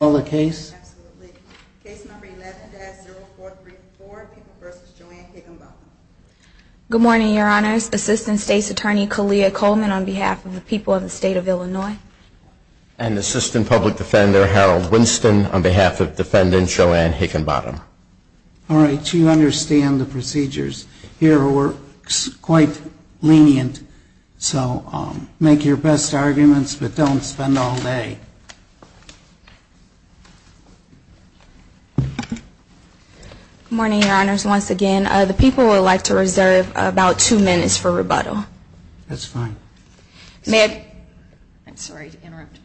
on behalf of the people of the state of Illinois. And Assistant Public Defender Harold Winston on behalf of Defendant Joanne Higgenbotham. All right, you understand the procedures here are quite lenient, so make your best arguments but don't spend all day. Good morning, Your Honors. Once again, the people would like to reserve about two minutes for rebuttal. That's fine. I'm sorry to interrupt.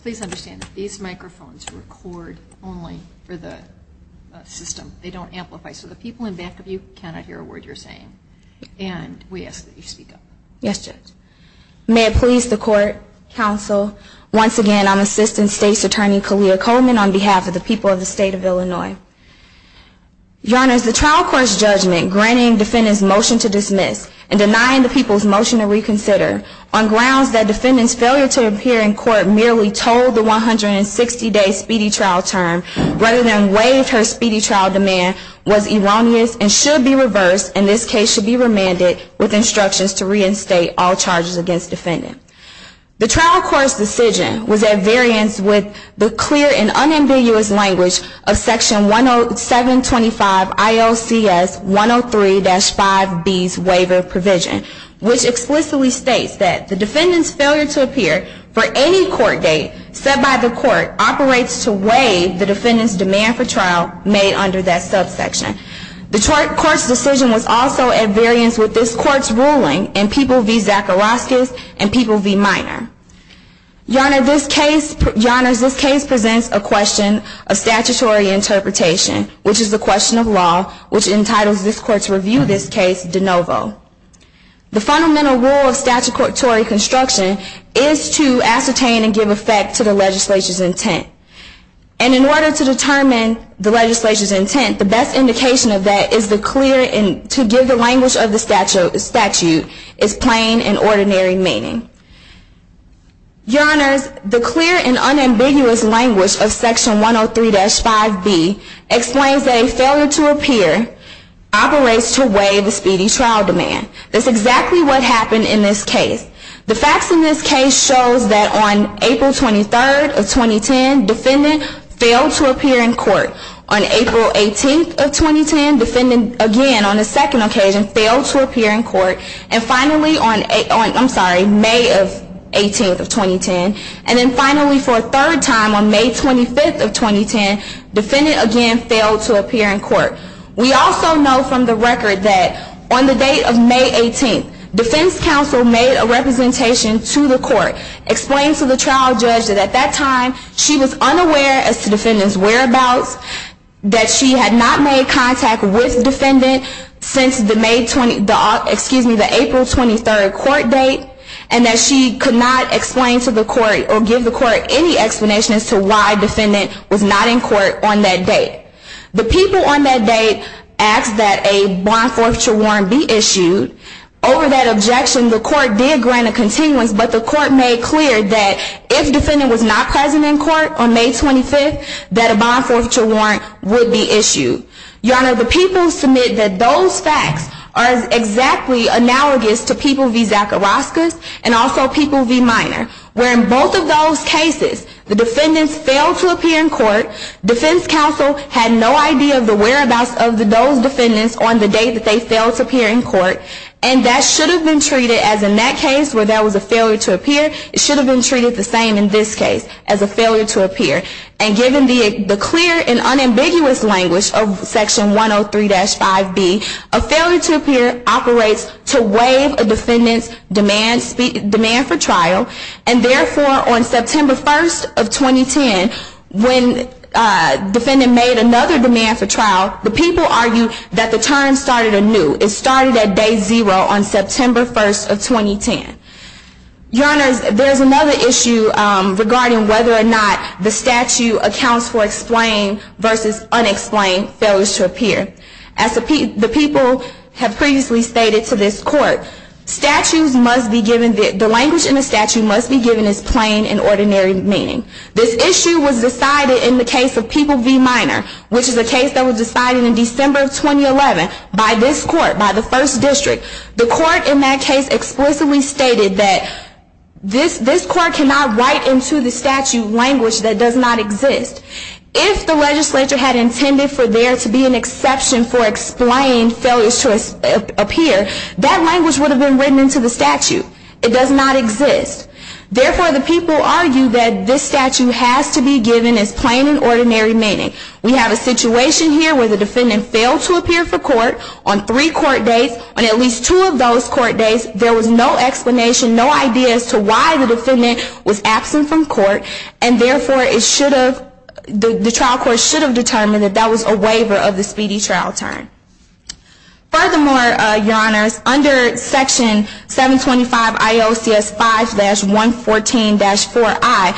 Please understand that these microphones record only for the system. They don't amplify. So the people in back of you cannot hear a word you're saying. And we ask that you speak up. Yes, Judge. May it please the Court, Counsel, once again, I'm Assistant State's Attorney Kalia Coleman on behalf of the people of the state of Illinois. Your Honors, the trial court's judgment granting Defendant's motion to dismiss and denying the people's motion to reconsider on grounds that Defendant's failure to appear in court merely told the 160-day speedy trial term rather than waived her speedy trial demand was erroneous and should be reversed, and this case should be remanded with instructions to reinstate all charges against Defendant. The trial court's decision was at variance with the clear and unambiguous language of Section 725 IOCS 103-5B's waiver provision, which explicitly states that the Defendant's failure to appear for any court date set by the court operates to waive the Defendant's demand for trial made under that subsection. The trial court's decision was also at variance with this court's ruling in People v. Zacharoskis and People v. Minor. Your Honors, this case presents a question of statutory interpretation, which is a question of law, which entitles this court to review this case de novo. The fundamental rule of statutory construction is to ascertain and give effect to the legislature's intent. And in order to determine the legislature's intent, the best indication of that is to give the language of the statute its plain and ordinary meaning. Your Honors, the clear and unambiguous language of Section 103-5B explains that a failure to appear operates to waive a speedy trial demand. That's exactly what happened in this case. The facts in this case shows that on April 23rd of 2010, Defendant failed to appear in court. On April 18th of 2010, Defendant again, on a second occasion, failed to appear in court. And finally on May 18th of 2010, and then finally for a third time on May 25th of 2010, Defendant again failed to appear in court. We also know from the record that on the date of May 18th, defense counsel made a representation to the court, explained to the trial judge that at that time she was unaware as to Defendant's whereabouts, that she had not made contact with Defendant since the April 23rd court date, and that she could not explain to the court or give the court any explanation as to why Defendant was not in court on that date. The people on that date asked that a bond forfeiture warrant be issued. Over that objection, the court did grant a continuance, but the court made clear that if Defendant was not present in court on May 25th, that a bond forfeiture warrant would be issued. Your Honor, the people submit that those facts are exactly analogous to People v. Zachariaskas and also People v. Minor, where in both of those cases, the defendants failed to appear in court, defense counsel had no idea of the whereabouts of those defendants on the date that they failed to appear in court, and that should have been treated as in that case where there was a failure to appear, it should have been treated the same in this case as a failure to appear. And given the clear and unambiguous language of Section 103-5B, a failure to appear operates to waive a defendant's demand for trial, and therefore, on September 1st of 2010, when Defendant made another demand for trial, the people argued that the term started anew. It started at day zero on September 1st of 2010. Your Honor, there's another issue regarding whether or not the statute accounts for explained versus unexplained failures to appear. As the people have previously stated to this court, the language in the statute must be given as plain and ordinary meaning. This issue was decided in the case of People v. Minor, which is a case that was decided in December of 2011 by this court, by the First District. The court in that case explicitly stated that this court cannot write into the statute language that does not exist. If the legislature had intended for there to be an exception for explained failures to appear, that language would have been written into the statute. It does not exist. Therefore, the people argue that this statute has to be given as plain and ordinary meaning. We have a situation here where the defendant failed to appear for court on three court days. On at least two of those court days, there was no explanation, no idea as to why the defendant was absent from court, and therefore, the trial court should have determined that that was a waiver of the speedy trial term. Furthermore, Your Honors, under Section 725 IOCS 5-114-4I,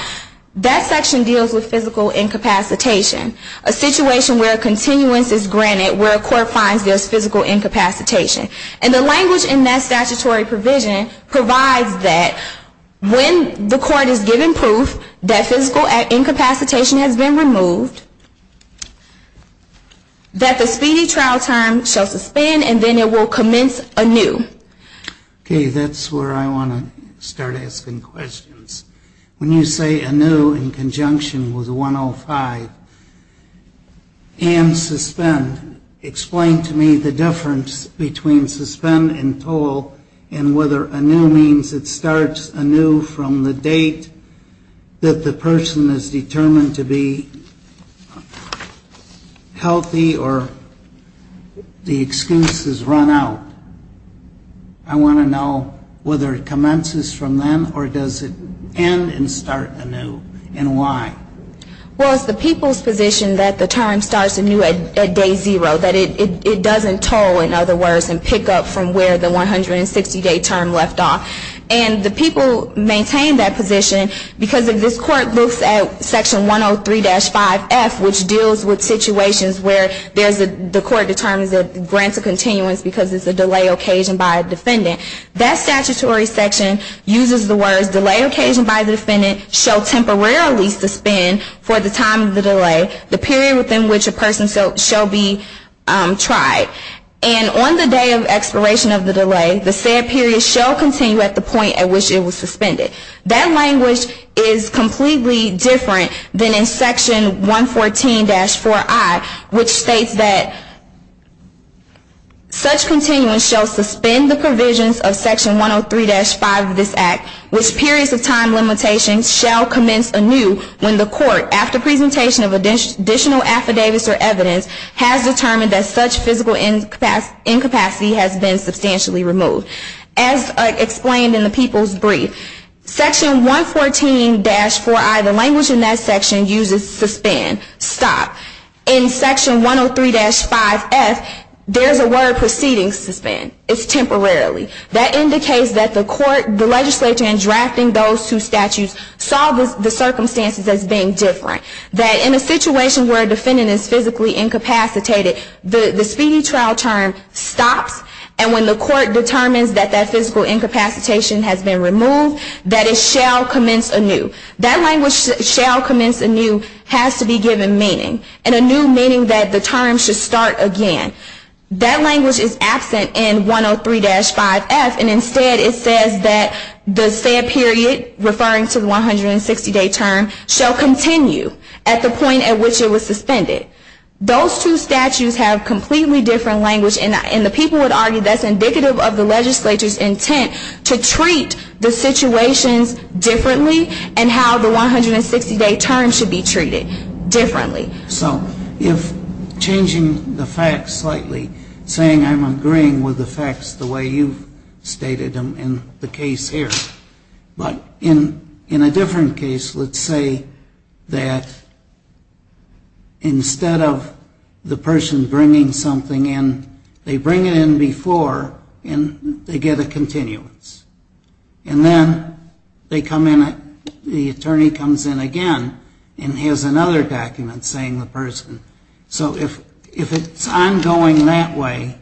that section deals with physical incapacitation, a situation where continuance is granted, where a court finds there's physical incapacitation. And the language in that statutory provision provides that when the court is given proof that physical incapacitation has been removed, that the speedy trial term shall suspend and then it will commence anew. Okay, that's where I want to start asking questions. When you say anew in conjunction with 105 and suspend, explain to me the difference between suspend and toll and whether anew means it starts anew from the date that the person is determined to be healthy or the excuse is run out. I want to know whether it commences from then or does it end and start anew, and why? Well, it's the people's position that the term starts anew at day zero, that it doesn't toll, in other words, and pick up from where the 160-day term left off. And the people maintain that position because if this court looks at Section 103-5F, which deals with situations where the court determines it grants a continuance because it's a delay occasioned by a defendant, that statutory section uses the words delay occasioned by the defendant shall temporarily suspend for the time of the delay, the period within which a person shall be tried. And on the day of expiration of the delay, the said period shall continue at the point at which it was suspended. That language is completely different than in Section 114-4I, which states that such continuance shall suspend the provisions of Section 103-5 of this Act, which periods of time limitations shall commence anew when the court, after presentation of additional affidavits or evidence, has determined that such physical incapacity has been substantially removed. As explained in the people's brief, Section 114-4I, the language in that section, uses suspend, stop. In Section 103-5F, there's a word preceding suspend. It's temporarily. That indicates that the court, the legislature, in drafting those two statutes, saw the circumstances as being different. That in a situation where a defendant is physically incapacitated, the speedy trial term stops, and when the court determines that that physical incapacitation has been removed, that it shall commence anew. That language, shall commence anew, has to be given meaning, and anew meaning that the term should start again. That language is absent in 103-5F, and instead it says that the said period, referring to the 160-day term, shall continue at the point at which it was suspended. Those two statutes have completely different language, and the people would argue that's indicative of the legislature's intent to treat the situations differently, and how the 160-day term should be treated differently. So if changing the facts slightly, saying I'm agreeing with the facts the way you've stated them in the case here, but in a different case, let's say that instead of the person bringing something in, they bring it in before, and they get a continuance. And then they come in, the attorney comes in again, and has another document saying the person. So if it's ongoing that way,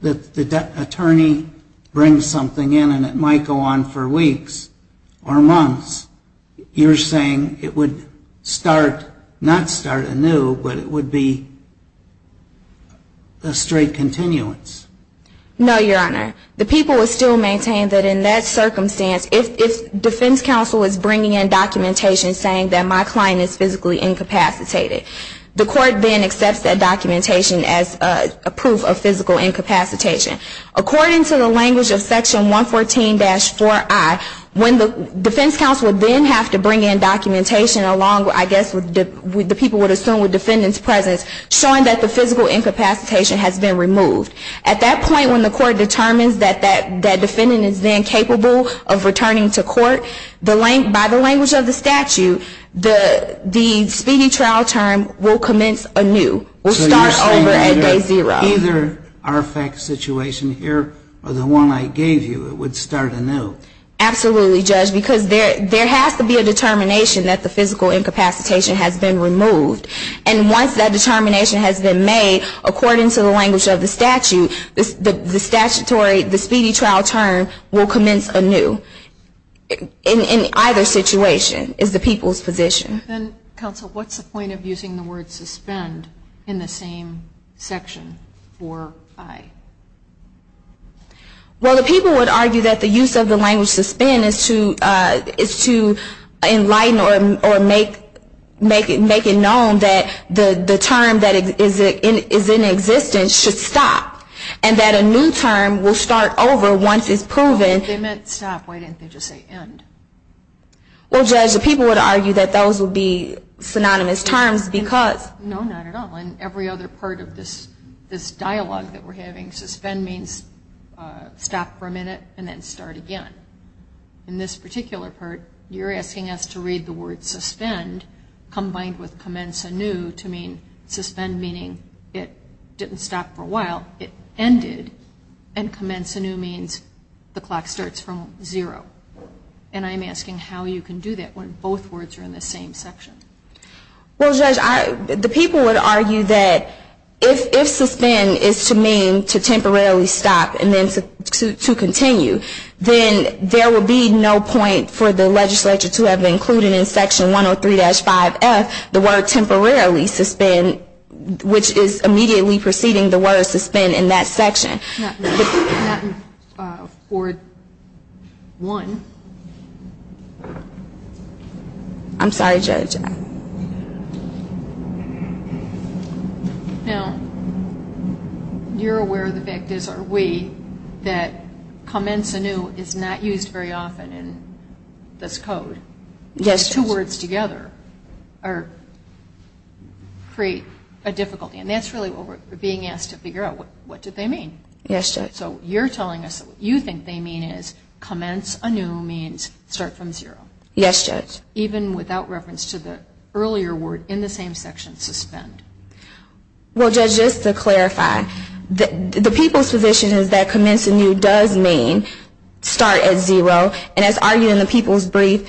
that the attorney brings something in, and it might go on for weeks or months, you're saying it would start, not start anew, but it would be a straight continuance. No, Your Honor. The people would still maintain that in that circumstance, if defense counsel is bringing in documentation saying that my client is physically incapacitated, the court then accepts that documentation as a proof of physical incapacitation. According to the language of section 114-4I, when the defense counsel would then have to bring in documentation along, I guess the people would assume with defendant's presence, showing that the physical incapacitation has been removed. At that point, when the court determines that that defendant is then capable of returning to court, by the language of the statute, the speedy trial term will commence anew. It will start over at day zero. So you're saying that either our fact situation here, or the one I gave you, it would start anew. Absolutely, Judge, because there has to be a determination that the physical incapacitation has been removed. And once that determination has been made, according to the language of the statute, the speedy trial term will commence anew. In either situation is the people's position. Counsel, what's the point of using the word suspend in the same section, 4I? Well, the people would argue that the use of the language suspend is to enlighten or make it known that the term that is in existence should stop, and that a new term will start over once it's proven. They meant stop. Why didn't they just say end? Well, Judge, the people would argue that those would be synonymous terms because. No, not at all. In every other part of this dialogue that we're having, suspend means stop for a minute and then start again. In this particular part, you're asking us to read the word suspend combined with commence anew to mean suspend meaning it didn't stop for a while, it ended, and commence anew means the clock starts from zero. And I'm asking how you can do that when both words are in the same section. Well, Judge, the people would argue that if suspend is to mean to temporarily stop and then to continue, then there would be no point for the legislature to have included in Section 103-5F the word temporarily suspend, which is immediately preceding the word suspend in that section. Not in 4-1. I'm sorry, Judge. Now, you're aware of the fact, are we, that commence anew is not used very often in this code. Yes, Judge. But when the two words together create a difficulty, and that's really what we're being asked to figure out, what do they mean? Yes, Judge. So you're telling us that what you think they mean is commence anew means start from zero. Yes, Judge. Even without reference to the earlier word in the same section, suspend. Well, Judge, just to clarify, the people's position is that commence anew does mean start at zero, and as argued in the people's brief,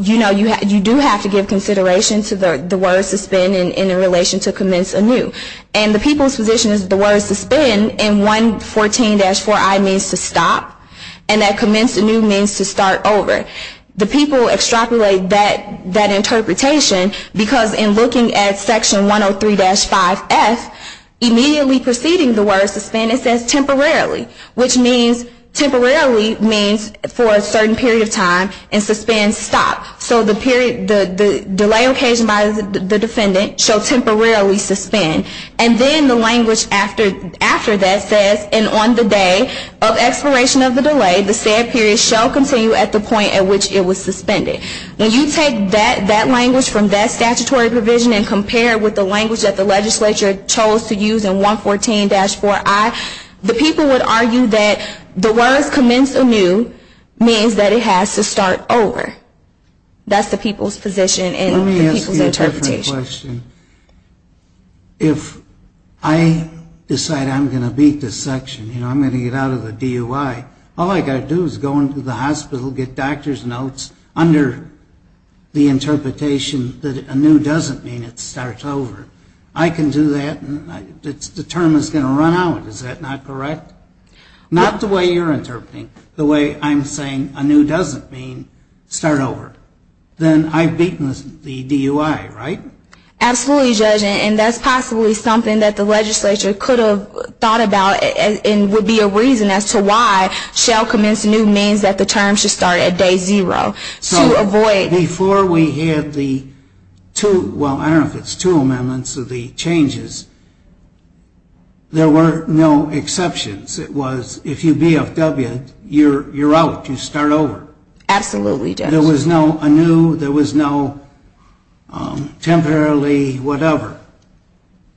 you do have to give consideration to the word suspend in relation to commence anew. And the people's position is the word suspend in 114-4I means to stop, and that commence anew means to start over. The people extrapolate that interpretation because in looking at Section 103-5F, immediately preceding the word suspend, it says temporarily, which temporarily means for a certain period of time, and suspend stops. So the delay occasioned by the defendant shall temporarily suspend. And then the language after that says, and on the day of expiration of the delay, the said period shall continue at the point at which it was suspended. When you take that language from that statutory provision and compare it with the language that the legislature chose to use in 114-4I, the people would argue that the words commence anew means that it has to start over. That's the people's position and the people's interpretation. Let me ask you a different question. If I decide I'm going to beat this section, you know, I'm going to get out of the DUI, all I've got to do is go into the hospital, get doctor's notes under the interpretation that anew doesn't mean it starts over. I can do that, and the term is going to run out. Is that not correct? Not the way you're interpreting. The way I'm saying anew doesn't mean start over. Then I've beaten the DUI, right? Absolutely, Judge, and that's possibly something that the legislature could have thought about and would be a reason as to why shall commence anew means that the term should start at day zero. So before we had the two, well, I don't know if it's two amendments or the changes, there were no exceptions. It was if you BFW, you're out. You start over. Absolutely, Judge. There was no anew. There was no temporarily whatever.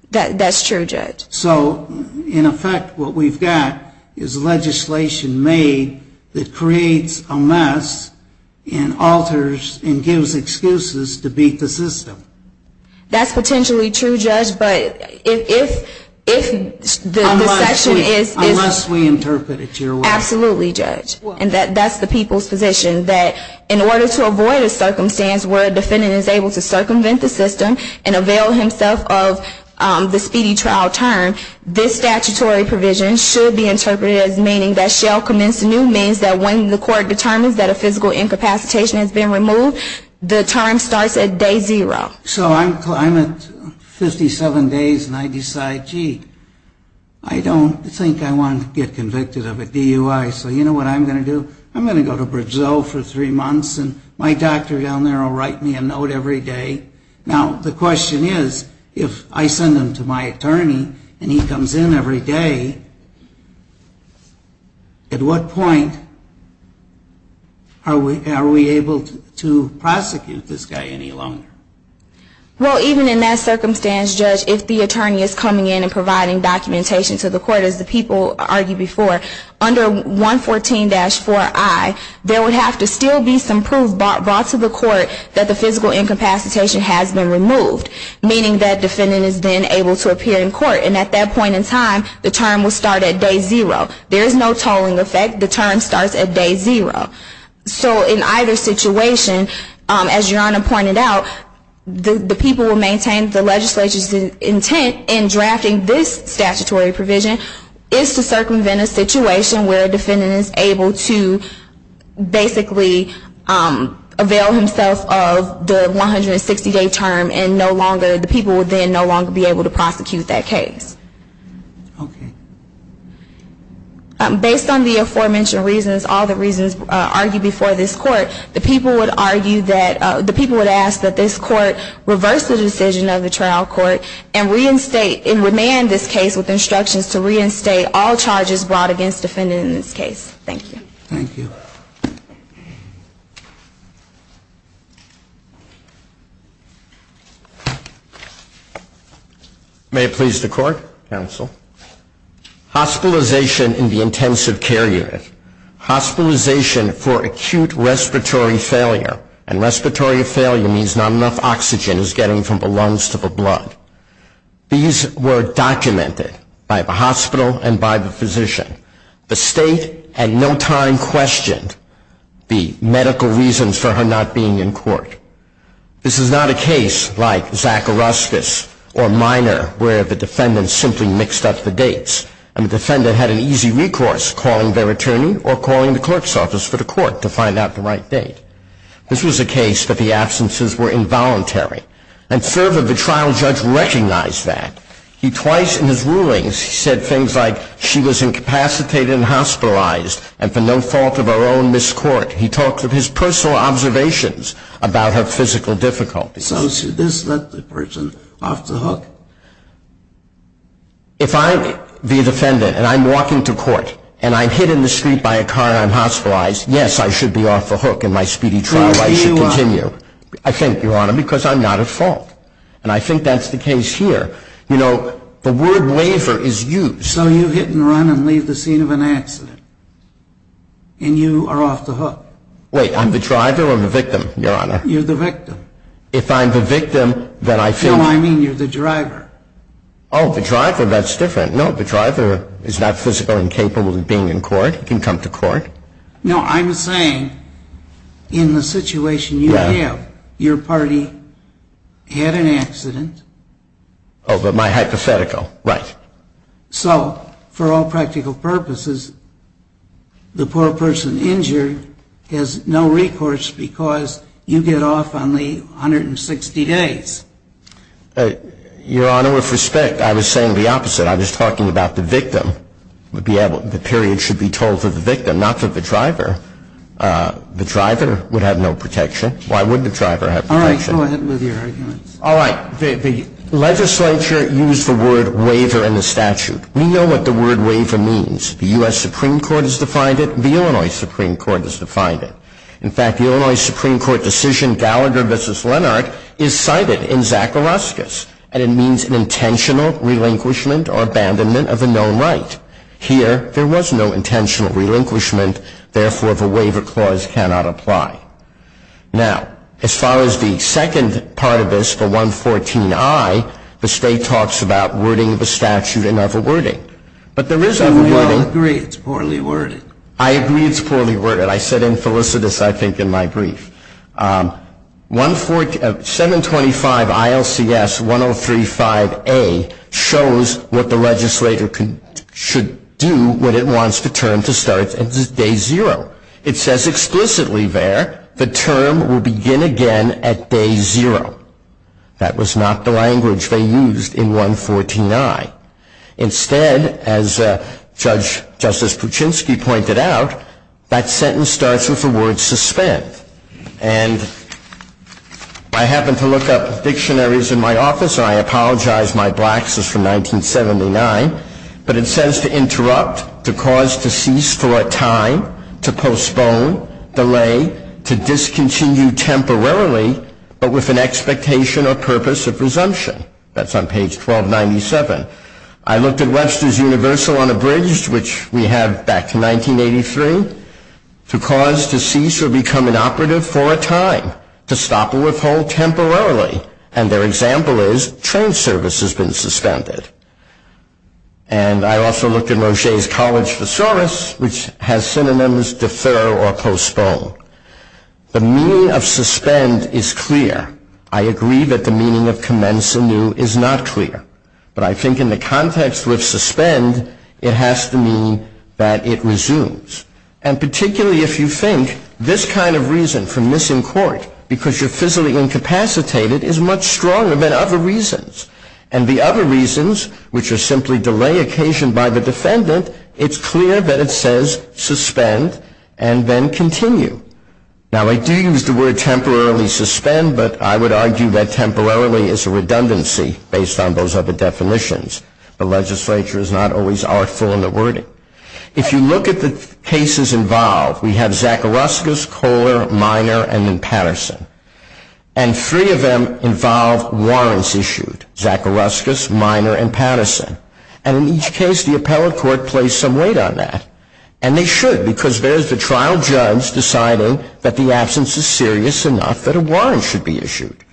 That's true, Judge. So, in effect, what we've got is legislation made that creates a mess and alters and gives excuses to beat the system. That's potentially true, Judge, but if the section is Unless we interpret it your way. Absolutely, Judge. And that's the people's position that in order to avoid a circumstance where a defendant is able to circumvent the system and avail himself of the speedy trial term, this statutory provision should be interpreted as meaning that shall commence anew means that when the court determines that a physical incapacitation has been removed, the term starts at day zero. So I'm at 57 days and I decide, gee, I don't think I want to get convicted of a DUI, so you know what I'm going to do? I'm going to go to Brazil for three months and my doctor down there will write me a note every day. Now, the question is, if I send him to my attorney and he comes in every day, at what point are we able to prosecute this guy any longer? Well, even in that circumstance, Judge, if the attorney is coming in and providing documentation to the court, as the people argued before, under 114-4i, there would have to still be some proof brought to the court that the physical incapacitation has been removed. Meaning that defendant is then able to appear in court. And at that point in time, the term will start at day zero. There is no tolling effect. The term starts at day zero. So in either situation, as Your Honor pointed out, the people who maintain the legislature's intent in drafting this statutory provision is to circumvent a situation where a defendant is able to basically avail himself of the 160-day term and no longer, the people would then no longer be able to prosecute that case. Okay. Based on the aforementioned reasons, all the reasons argued before this court, the people would argue that, the people would ask that this court reverse the decision of the trial court and reinstate, and remand this case with instructions to reinstate all charges brought against defendant in this case. Thank you. Thank you. May it please the court, counsel. Hospitalization in the intensive care unit. Hospitalization for acute respiratory failure. And respiratory failure means not enough oxygen is getting from the lungs to the blood. These were documented by the hospital and by the physician. The state had no time questioned the medical reasons for her not being in court. This is not a case like Zacharuskas or Minor where the defendant simply mixed up the dates, and the defendant had an easy recourse, calling their attorney or calling the clerk's office for the court to find out the right date. This was a case that the absences were involuntary. And further, the trial judge recognized that. He twice in his rulings, he said things like, she was incapacitated and hospitalized, and for no fault of her own, missed court. He talked of his personal observations about her physical difficulties. So should this let the person off the hook? If I, the defendant, and I'm walking to court, and I'm hit in the street by a car and I'm hospitalized, yes, I should be off the hook. In my speedy trial, I should continue. I think, Your Honor, because I'm not at fault. And I think that's the case here. You know, the word waiver is used. So you hit and run and leave the scene of an accident, and you are off the hook. Wait. I'm the driver or I'm the victim, Your Honor? You're the victim. If I'm the victim, then I think – No, I mean you're the driver. Oh, the driver. That's different. No, the driver is not physically incapable of being in court. He can come to court. No, I'm saying in the situation you have, your party had an accident. Oh, but my hypothetical. Right. So for all practical purposes, the poor person injured has no recourse because you get off on the 160 days. Your Honor, with respect, I was saying the opposite. I was talking about the victim. The period should be told to the victim, not to the driver. The driver would have no protection. Why would the driver have protection? All right. Go ahead with your arguments. All right. The legislature used the word waiver in the statute. We know what the word waiver means. The U.S. Supreme Court has defined it. The Illinois Supreme Court has defined it. In fact, the Illinois Supreme Court decision, Gallagher v. Lennart, is cited in Zachariascus, and it means an intentional relinquishment or abandonment of a known right. Here, there was no intentional relinquishment. Therefore, the waiver clause cannot apply. Now, as far as the second part of this, the 114I, the state talks about wording the statute in other wording. But there is other wording. I agree it's poorly worded. I agree it's poorly worded. I said in felicitous, I think, in my brief. 725ILCS1035A shows what the legislator should do when it wants the term to start at day zero. It says explicitly there, the term will begin again at day zero. That was not the language they used in 114I. Instead, as Justice Puczynski pointed out, that sentence starts with the word suspend. And I happened to look up dictionaries in my office, and I apologize, my blacks is from 1979, but it says to interrupt, to cause, to cease for a time, to postpone, delay, to discontinue temporarily, but with an expectation or purpose of resumption. That's on page 1297. I looked at Webster's Universal Unabridged, which we have back to 1983, to cause, to cease, or become inoperative for a time, to stop or withhold temporarily. And their example is, train service has been suspended. And I also looked at Roche's College Thesaurus, which has synonyms defer or postpone. The meaning of suspend is clear. I agree that the meaning of commence anew is not clear. But I think in the context with suspend, it has to mean that it resumes. And particularly if you think this kind of reason for missing court, because you're physically incapacitated, is much stronger than other reasons. And the other reasons, which are simply delay occasioned by the defendant, it's clear that it says suspend and then continue. Now, I do use the word temporarily suspend, but I would argue that temporarily is a redundancy based on those other definitions. The legislature is not always artful in the wording. If you look at the cases involved, we have Zacharuskas, Kohler, Miner, and Patterson. And three of them involve warrants issued, Zacharuskas, Miner, and Patterson. And in each case, the appellate court placed some weight on that. And they should, because there's the trial judge deciding that the absence is serious enough that a warrant should be issued.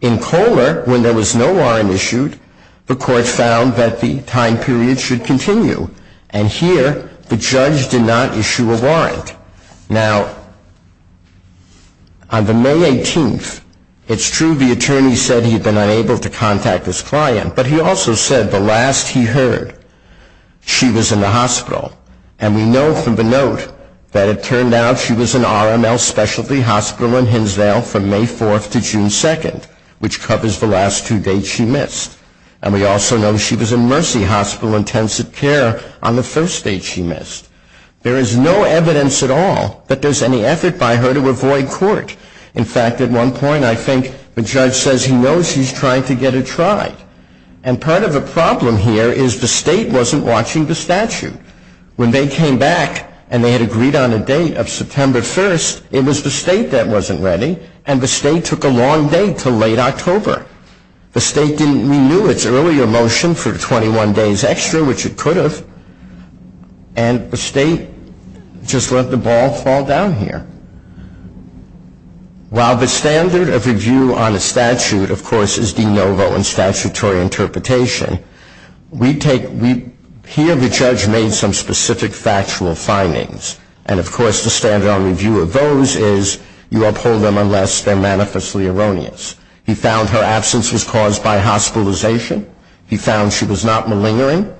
In Kohler, when there was no warrant issued, the court found that the time period should continue. And here, the judge did not issue a warrant. Now, on the May 18th, it's true the attorney said he had been unable to contact his client, but he also said the last he heard, she was in the hospital. And we know from the note that it turned out she was in RML Specialty Hospital in Hinsdale from May 4th to June 2nd, which covers the last two dates she missed. And we also know she was in Mercy Hospital Intensive Care on the first date she missed. There is no evidence at all that there's any effort by her to avoid court. In fact, at one point, I think the judge says he knows he's trying to get her tried. And part of the problem here is the state wasn't watching the statute. When they came back and they had agreed on a date of September 1st, it was the state that wasn't ready, and the state took a long date to late October. The state didn't renew its earlier motion for 21 days extra, which it could have, and the state just let the ball fall down here. While the standard of review on a statute, of course, is de novo in statutory interpretation, here the judge made some specific factual findings. And, of course, the standard of review of those is you uphold them unless they're manifestly erroneous. He found her absence was caused by hospitalization. He found she was not malingering.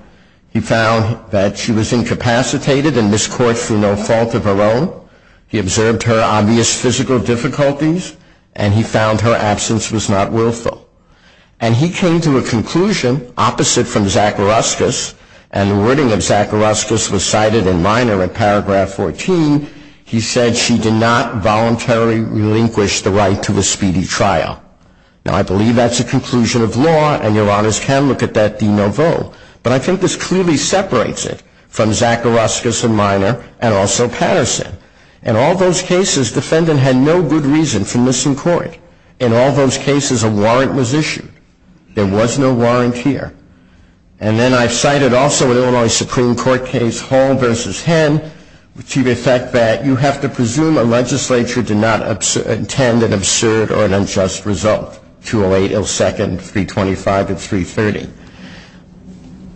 He found that she was incapacitated and miscouraged through no fault of her own. He observed her obvious physical difficulties. And he found her absence was not willful. And he came to a conclusion opposite from Zacharauskas, and the wording of Zacharauskas was cited in minor in paragraph 14. He said she did not voluntarily relinquish the right to a speedy trial. Now, I believe that's a conclusion of law, and Your Honors can look at that de novo. But I think this clearly separates it from Zacharauskas in minor and also Patterson. In all those cases, defendant had no good reason for missing court. In all those cases, a warrant was issued. There was no warrant here. And then I've cited also an Illinois Supreme Court case, Hall v. Henn, to the effect that you have to presume a legislature did not intend an absurd or an unjust result, 208, IL-2nd, 325, and 330.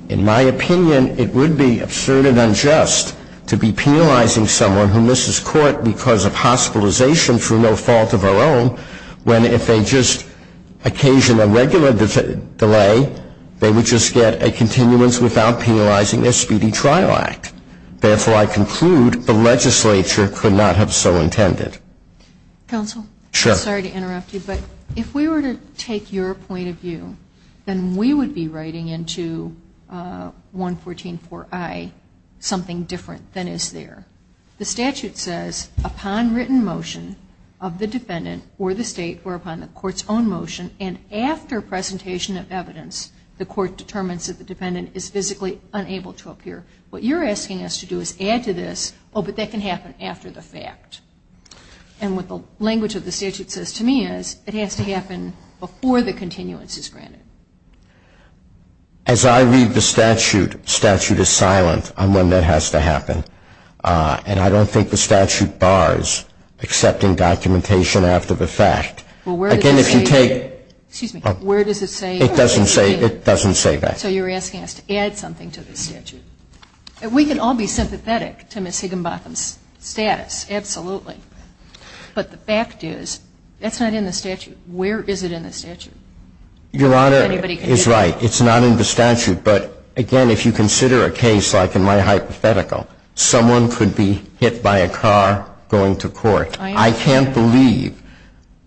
In my opinion, it would be absurd and unjust to be penalizing someone who misses court because of hospitalization through no fault of our own, when if they just occasion a regular delay, they would just get a continuance without penalizing their speedy trial act. Therefore, I conclude the legislature could not have so intended. Counsel? Sure. Sorry to interrupt you, but if we were to take your point of view, then we would be writing into 114.4i something different than is there. The statute says upon written motion of the defendant or the State or upon the court's own motion and after presentation of evidence, the court determines that the defendant is physically unable to appear. What you're asking us to do is add to this, oh, but that can happen after the fact. And what the language of the statute says to me is it has to happen before the continuance is granted. As I read the statute, statute is silent on when that has to happen. And I don't think the statute bars accepting documentation after the fact. Well, where does it say that? Excuse me. Where does it say that? It doesn't say that. So you're asking us to add something to the statute. We can all be sympathetic to Ms. Higginbotham's status, absolutely. But the fact is that's not in the statute. Where is it in the statute? Your Honor is right. It's not in the statute. But again, if you consider a case like in my hypothetical, someone could be hit by a car going to court. I can't believe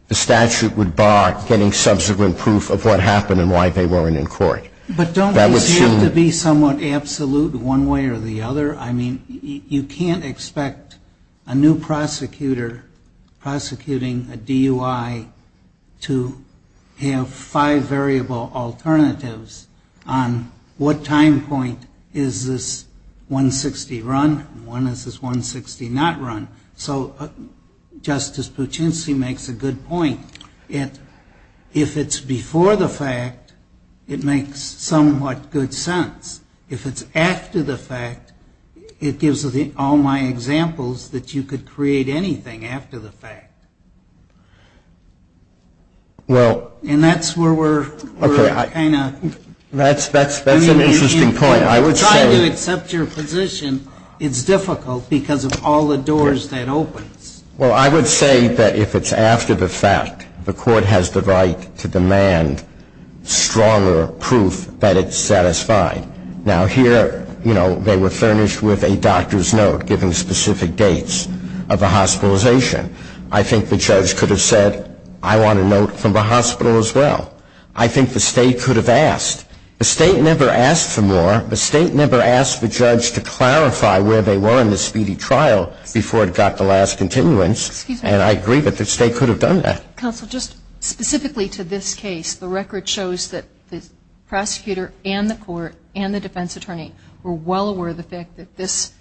the statute would bar getting subsequent proof of what happened and why they weren't in court. But don't these have to be somewhat absolute one way or the other? I mean, you can't expect a new prosecutor prosecuting a DUI to have five variable alternatives on what time point is this 160 run and when is this 160 not run. So Justice Puccinsi makes a good point. If it's before the fact, it makes somewhat good sense. If it's after the fact, it gives all my examples that you could create anything after the fact. And that's where we're kind of ‑‑ That's an interesting point. I would say ‑‑ If you try to accept your position, it's difficult because of all the doors that open. Well, I would say that if it's after the fact, the court has the right to demand stronger proof that it's satisfied. Now, here, you know, they were furnished with a doctor's note giving specific dates of a hospitalization. I think the judge could have said, I want a note from the hospital as well. I think the State could have asked. The State never asked for more. The State never asked the judge to clarify where they were in the speedy trial before it got the last continuance. Excuse me. And I agree that the State could have done that. Counsel, just specifically to this case, the record shows that the prosecutor and the court and the defense attorney were well aware of the fact that this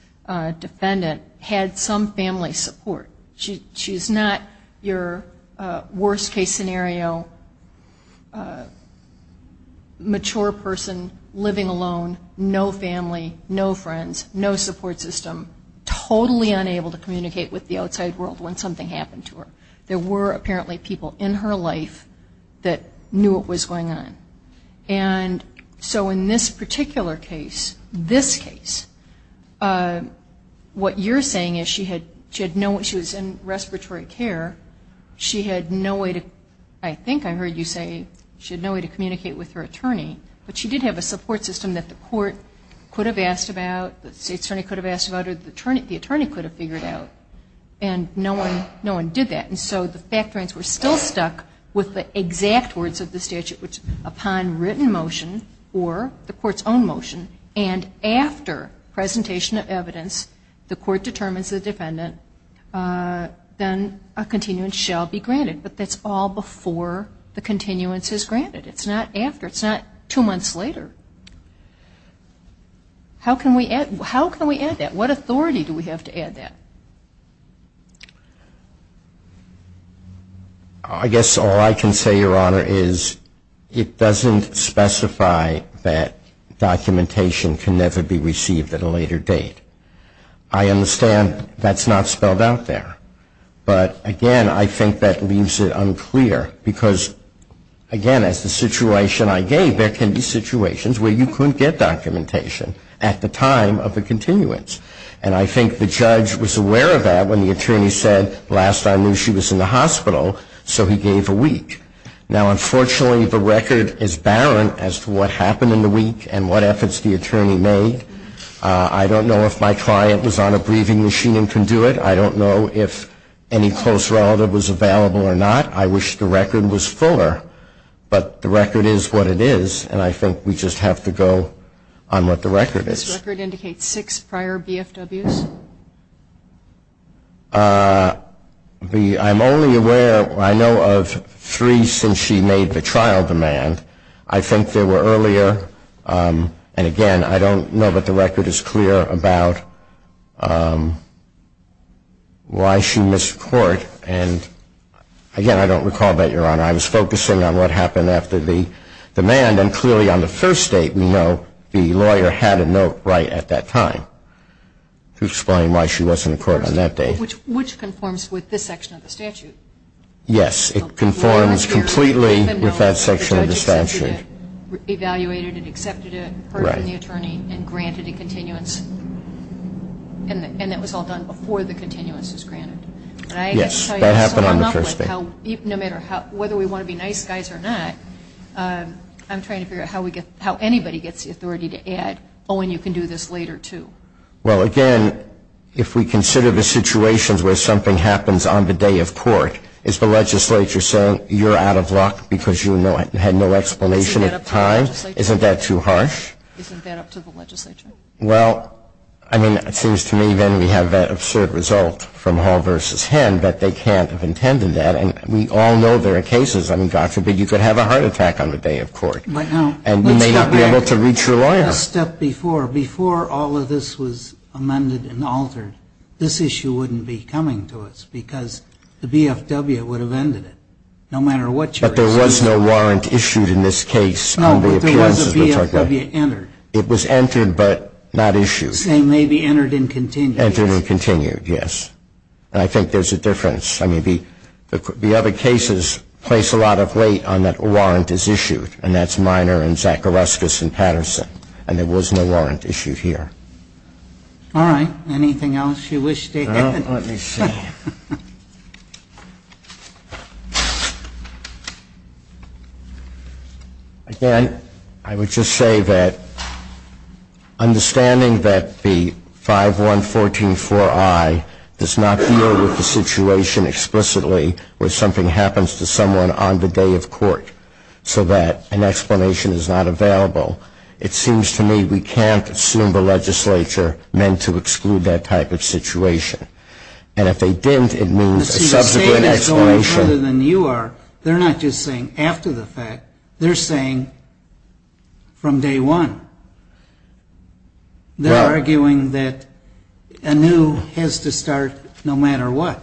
defendant had some family support. She's not your worst case scenario, mature person, living alone, no family, no friends, no support system, totally unable to communicate with the outside world when something happened to her. There were apparently people in her life that knew what was going on. And so in this particular case, this case, what you're saying is she had no, she was in respiratory care. She had no way to, I think I heard you say she had no way to communicate with her attorney. But she did have a support system that the court could have asked about, the State attorney could have asked about, or the attorney could have figured out. And no one did that. And so the fact points were still stuck with the exact words of the statute, which upon written motion or the court's own motion and after presentation of evidence, the court determines the defendant, then a continuance shall be granted. But that's all before the continuance is granted. It's not after. It's not two months later. How can we add that? What authority do we have to add that? I guess all I can say, Your Honor, is it doesn't specify that documentation can never be received at a later date. I understand that's not spelled out there. But, again, I think that leaves it unclear because, again, as the situation I gave, there can be situations where you couldn't get documentation at the time of the continuance. And I think the judge was aware of that when the attorney said, last I knew she was in the hospital, so he gave a week. Now, unfortunately, the record is barren as to what happened in the week and what efforts the attorney made. I don't know if my client was on a breathing machine and can do it. I don't know if any close relative was available or not. I wish the record was fuller. But the record is what it is, and I think we just have to go on what the record is. This record indicates six prior BFWs? I'm only aware, I know, of three since she made the trial demand. I think there were earlier. And, again, I don't know that the record is clear about why she missed court. And, again, I don't recall that, Your Honor. I was focusing on what happened after the demand, and clearly on the first date we know the lawyer had a note right at that time to explain why she wasn't in court on that day. Which conforms with this section of the statute. Yes, it conforms completely with that section of the statute. The judge evaluated it, accepted it, heard from the attorney, and granted a continuance. And it was all done before the continuance was granted. Yes, that happened on the first date. No matter whether we want to be nice guys or not, I'm trying to figure out how anybody gets the authority to add, oh, and you can do this later, too. Well, again, if we consider the situations where something happens on the day of court, is the legislature saying you're out of luck because you had no explanation in time? Isn't that up to the legislature? Isn't that up to the legislature? Well, I mean, it seems to me then we have that absurd result from Hall versus Henn, that they can't have intended that. And we all know there are cases, I mean, God forbid you could have a heart attack on the day of court. And you may not be able to reach your lawyer. Before all of this was amended and altered, this issue wouldn't be coming to us because the BFW would have ended it, no matter what your excuse was. But there was no warrant issued in this case. No, but there was a BFW entered. It was entered, but not issued. It may be entered and continued. Entered and continued, yes. And I think there's a difference. I mean, the other cases place a lot of weight on that a warrant is issued, and that's Miner and Zacharuskas and Patterson. And there was no warrant issued here. All right. Anything else you wish to add? Let me see. Again, I would just say that understanding that the 5114-4I does not deal with the situation explicitly where something happens to someone on the day of court so that an explanation is not available, it seems to me we can't assume the legislature meant to exclude that type of situation. And if they didn't, it means a subsequent explanation. But other than you are, they're not just saying after the fact. They're saying from day one. They're arguing that anew has to start no matter what.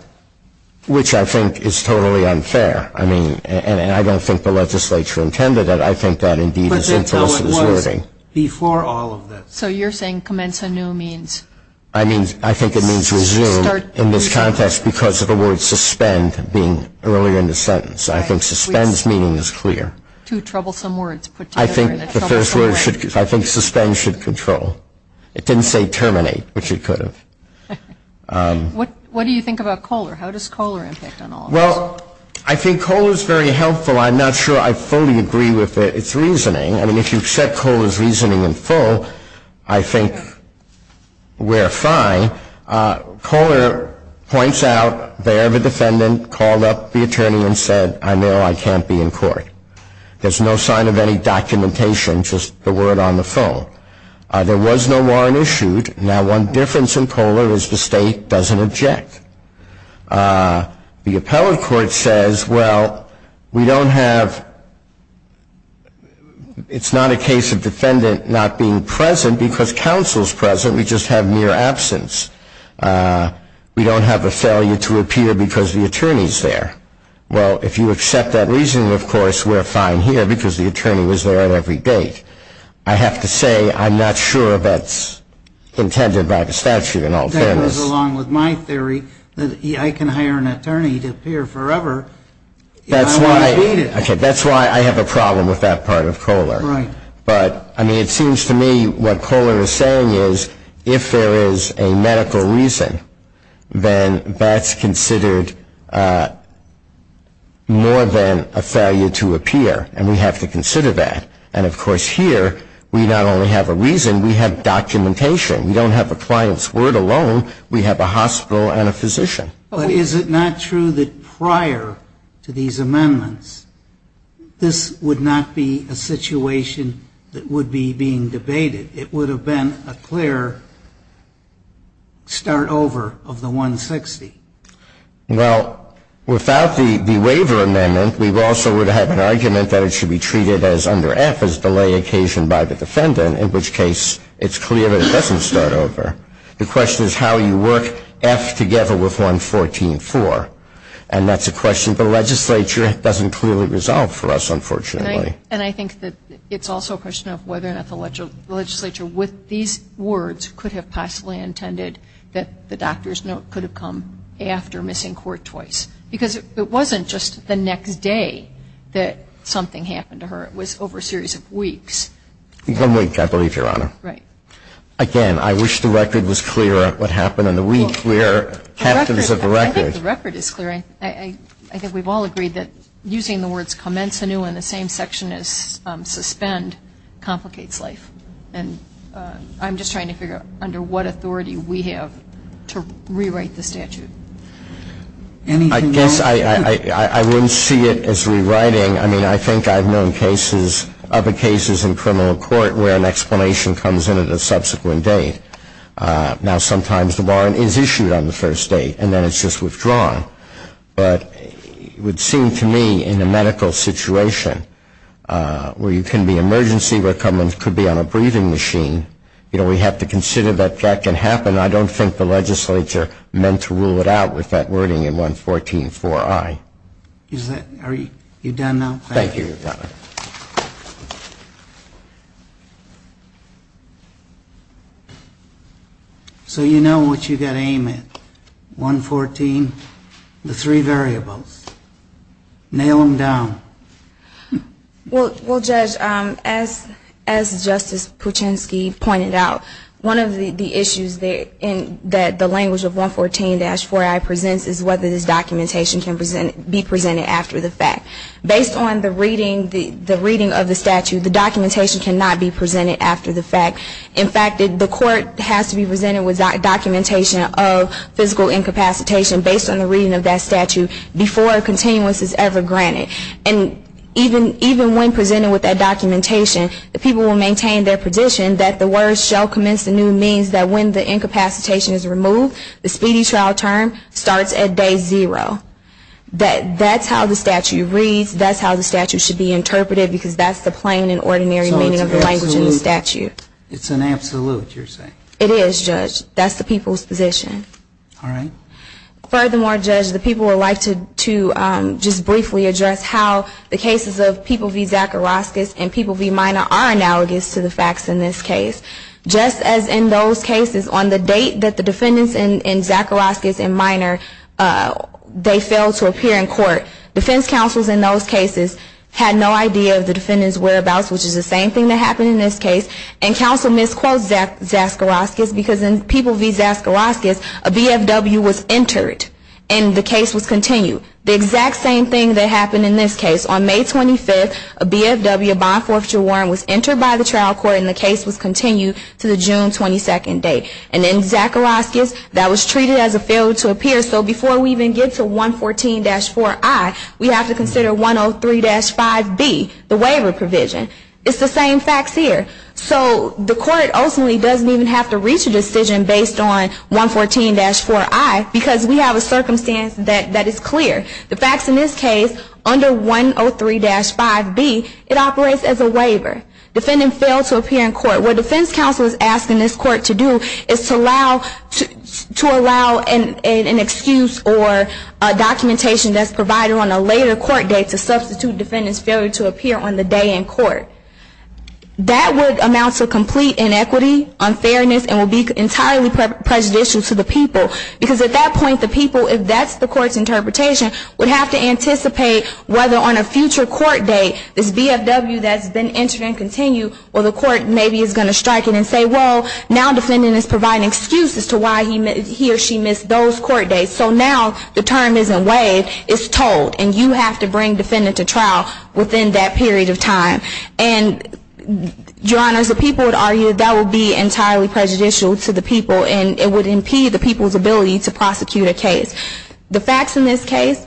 Which I think is totally unfair. I mean, and I don't think the legislature intended it. I think that, indeed, is implicit as wording. But until it was before all of this. So you're saying commence anew means? I think it means resume in this context because of the word suspend being earlier in the sentence. I think suspend's meaning is clear. Two troublesome words put together in a troublesome way. I think suspend should control. It didn't say terminate, which it could have. What do you think about Kohler? How does Kohler impact on all of this? Well, I think Kohler is very helpful. I'm not sure I fully agree with its reasoning. I mean, if you accept Kohler's reasoning in full, I think we're fine. Kohler points out the error of a defendant, called up the attorney and said, I know I can't be in court. There's no sign of any documentation, just the word on the phone. There was no warrant issued. Now one difference in Kohler is the state doesn't object. The appellate court says, well, we don't have, it's not a case of defendant not being present because counsel's present. We just have mere absence. We don't have a failure to appear because the attorney's there. Well, if you accept that reasoning, of course, we're fine here because the attorney was there at every date. I have to say I'm not sure that's intended by the statute in all fairness. It goes along with my theory that I can hire an attorney to appear forever if I want to beat it. That's why I have a problem with that part of Kohler. Right. But, I mean, it seems to me what Kohler is saying is if there is a medical reason, then that's considered more than a failure to appear, and we have to consider that. And, of course, here we not only have a reason, we have documentation. We don't have a client's word alone. We have a hospital and a physician. But is it not true that prior to these amendments, this would not be a situation that would be being debated? It would have been a clear start over of the 160. Well, without the waiver amendment, we also would have an argument that it should be treated as under F, as delay occasioned by the defendant, in which case it's clear that it doesn't start over. The question is how you work F together with 114.4. And that's a question the legislature doesn't clearly resolve for us, unfortunately. And I think that it's also a question of whether or not the legislature, with these words, could have possibly intended that the doctor's note could have come after missing court twice. Because it wasn't just the next day that something happened to her. It was over a series of weeks. One week, I believe, Your Honor. Right. Again, I wish the record was clearer what happened in the week where captains of the record. I think the record is clear. I think we've all agreed that using the words commence anew in the same section as suspend complicates life. And I'm just trying to figure out under what authority we have to rewrite the statute. Anything else? I guess I wouldn't see it as rewriting. I mean, I think I've known other cases in criminal court where an explanation comes in at a subsequent date. Now, sometimes the warrant is issued on the first date, and then it's just withdrawn. But it would seem to me in a medical situation where you can be emergency, where someone could be on a breathing machine, you know, we have to consider that that can happen. I don't think the legislature meant to rule it out with that wording in 114.4i. Are you done now? Thank you, Your Honor. So you know what you've got to aim at, 114, the three variables. Nail them down. Well, Judge, as Justice Puchinski pointed out, one of the issues that the language of 114-4i presents is whether this documentation can be presented after the fact. Based on the reading of the statute, the documentation cannot be presented after the fact. In fact, the court has to be presented with documentation of physical incapacitation based on the reading of that statute before a continuance is ever granted. And even when presented with that documentation, the people will maintain their position that the words shall commence anew means that when the incapacitation is removed, the speedy trial term starts at day zero. That's how the statute reads. That's how the statute should be interpreted because that's the plain and ordinary meaning of the language in the statute. So it's an absolute, you're saying? It is, Judge. That's the people's position. All right. Furthermore, Judge, the people would like to just briefly address how the cases of people v. Zacharoskis and people v. Minor are analogous to the facts in this case. Just as in those cases, on the date that the defendants in Zacharoskis and Minor, they failed to appear in court, defense counsels in those cases had no idea of the defendant's whereabouts, which is the same thing that happened in this case, and counsel misquotes Zacharoskis because in people v. Zacharoskis, a BFW was entered and the case was continued. The exact same thing that happened in this case. On May 25th, a BFW, a bond forfeiture warrant, was entered by the trial court and the case was continued to the June 22nd date. And in Zacharoskis, that was treated as a failure to appear. So before we even get to 114-4i, we have to consider 103-5b, the waiver provision. It's the same facts here. So the court ultimately doesn't even have to reach a decision based on 114-4i because we have a circumstance that is clear. The facts in this case, under 103-5b, it operates as a waiver. Defendant failed to appear in court. What defense counsel is asking this court to do is to allow an excuse or documentation that's provided on a later court date to substitute defendant's failure to appear on the day in court. That would amount to complete inequity, unfairness, and would be entirely prejudicial to the people. Because at that point, the people, if that's the court's interpretation, would have to anticipate whether on a future court date, this BFW that's been entered and continued, or the court maybe is going to strike it and say, well, now defendant is providing excuses to why he or she missed those court dates. So now the term isn't waived. It's told. And you have to bring defendant to trial within that period of time. And, Your Honors, the people would argue that would be entirely prejudicial to the people, and it would impede the people's ability to prosecute a case. The facts in this case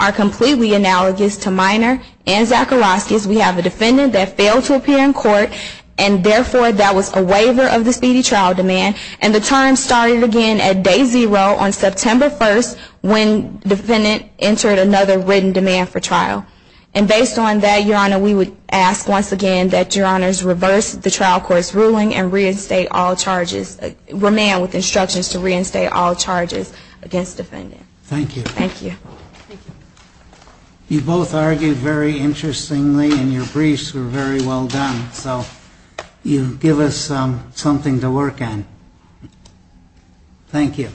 are completely analogous to Minor and Zakharovsky's. We have a defendant that failed to appear in court, and therefore that was a waiver of the speedy trial demand. And the term started again at day zero on September 1st when defendant entered another written demand for trial. And based on that, Your Honor, we would ask once again that Your Honors reverse the trial court's ruling and reinstate all charges, remand with instructions to reinstate all charges against defendant. Thank you. You both argued very interestingly, and your briefs were very well done. So you give us something to work on. Thank you.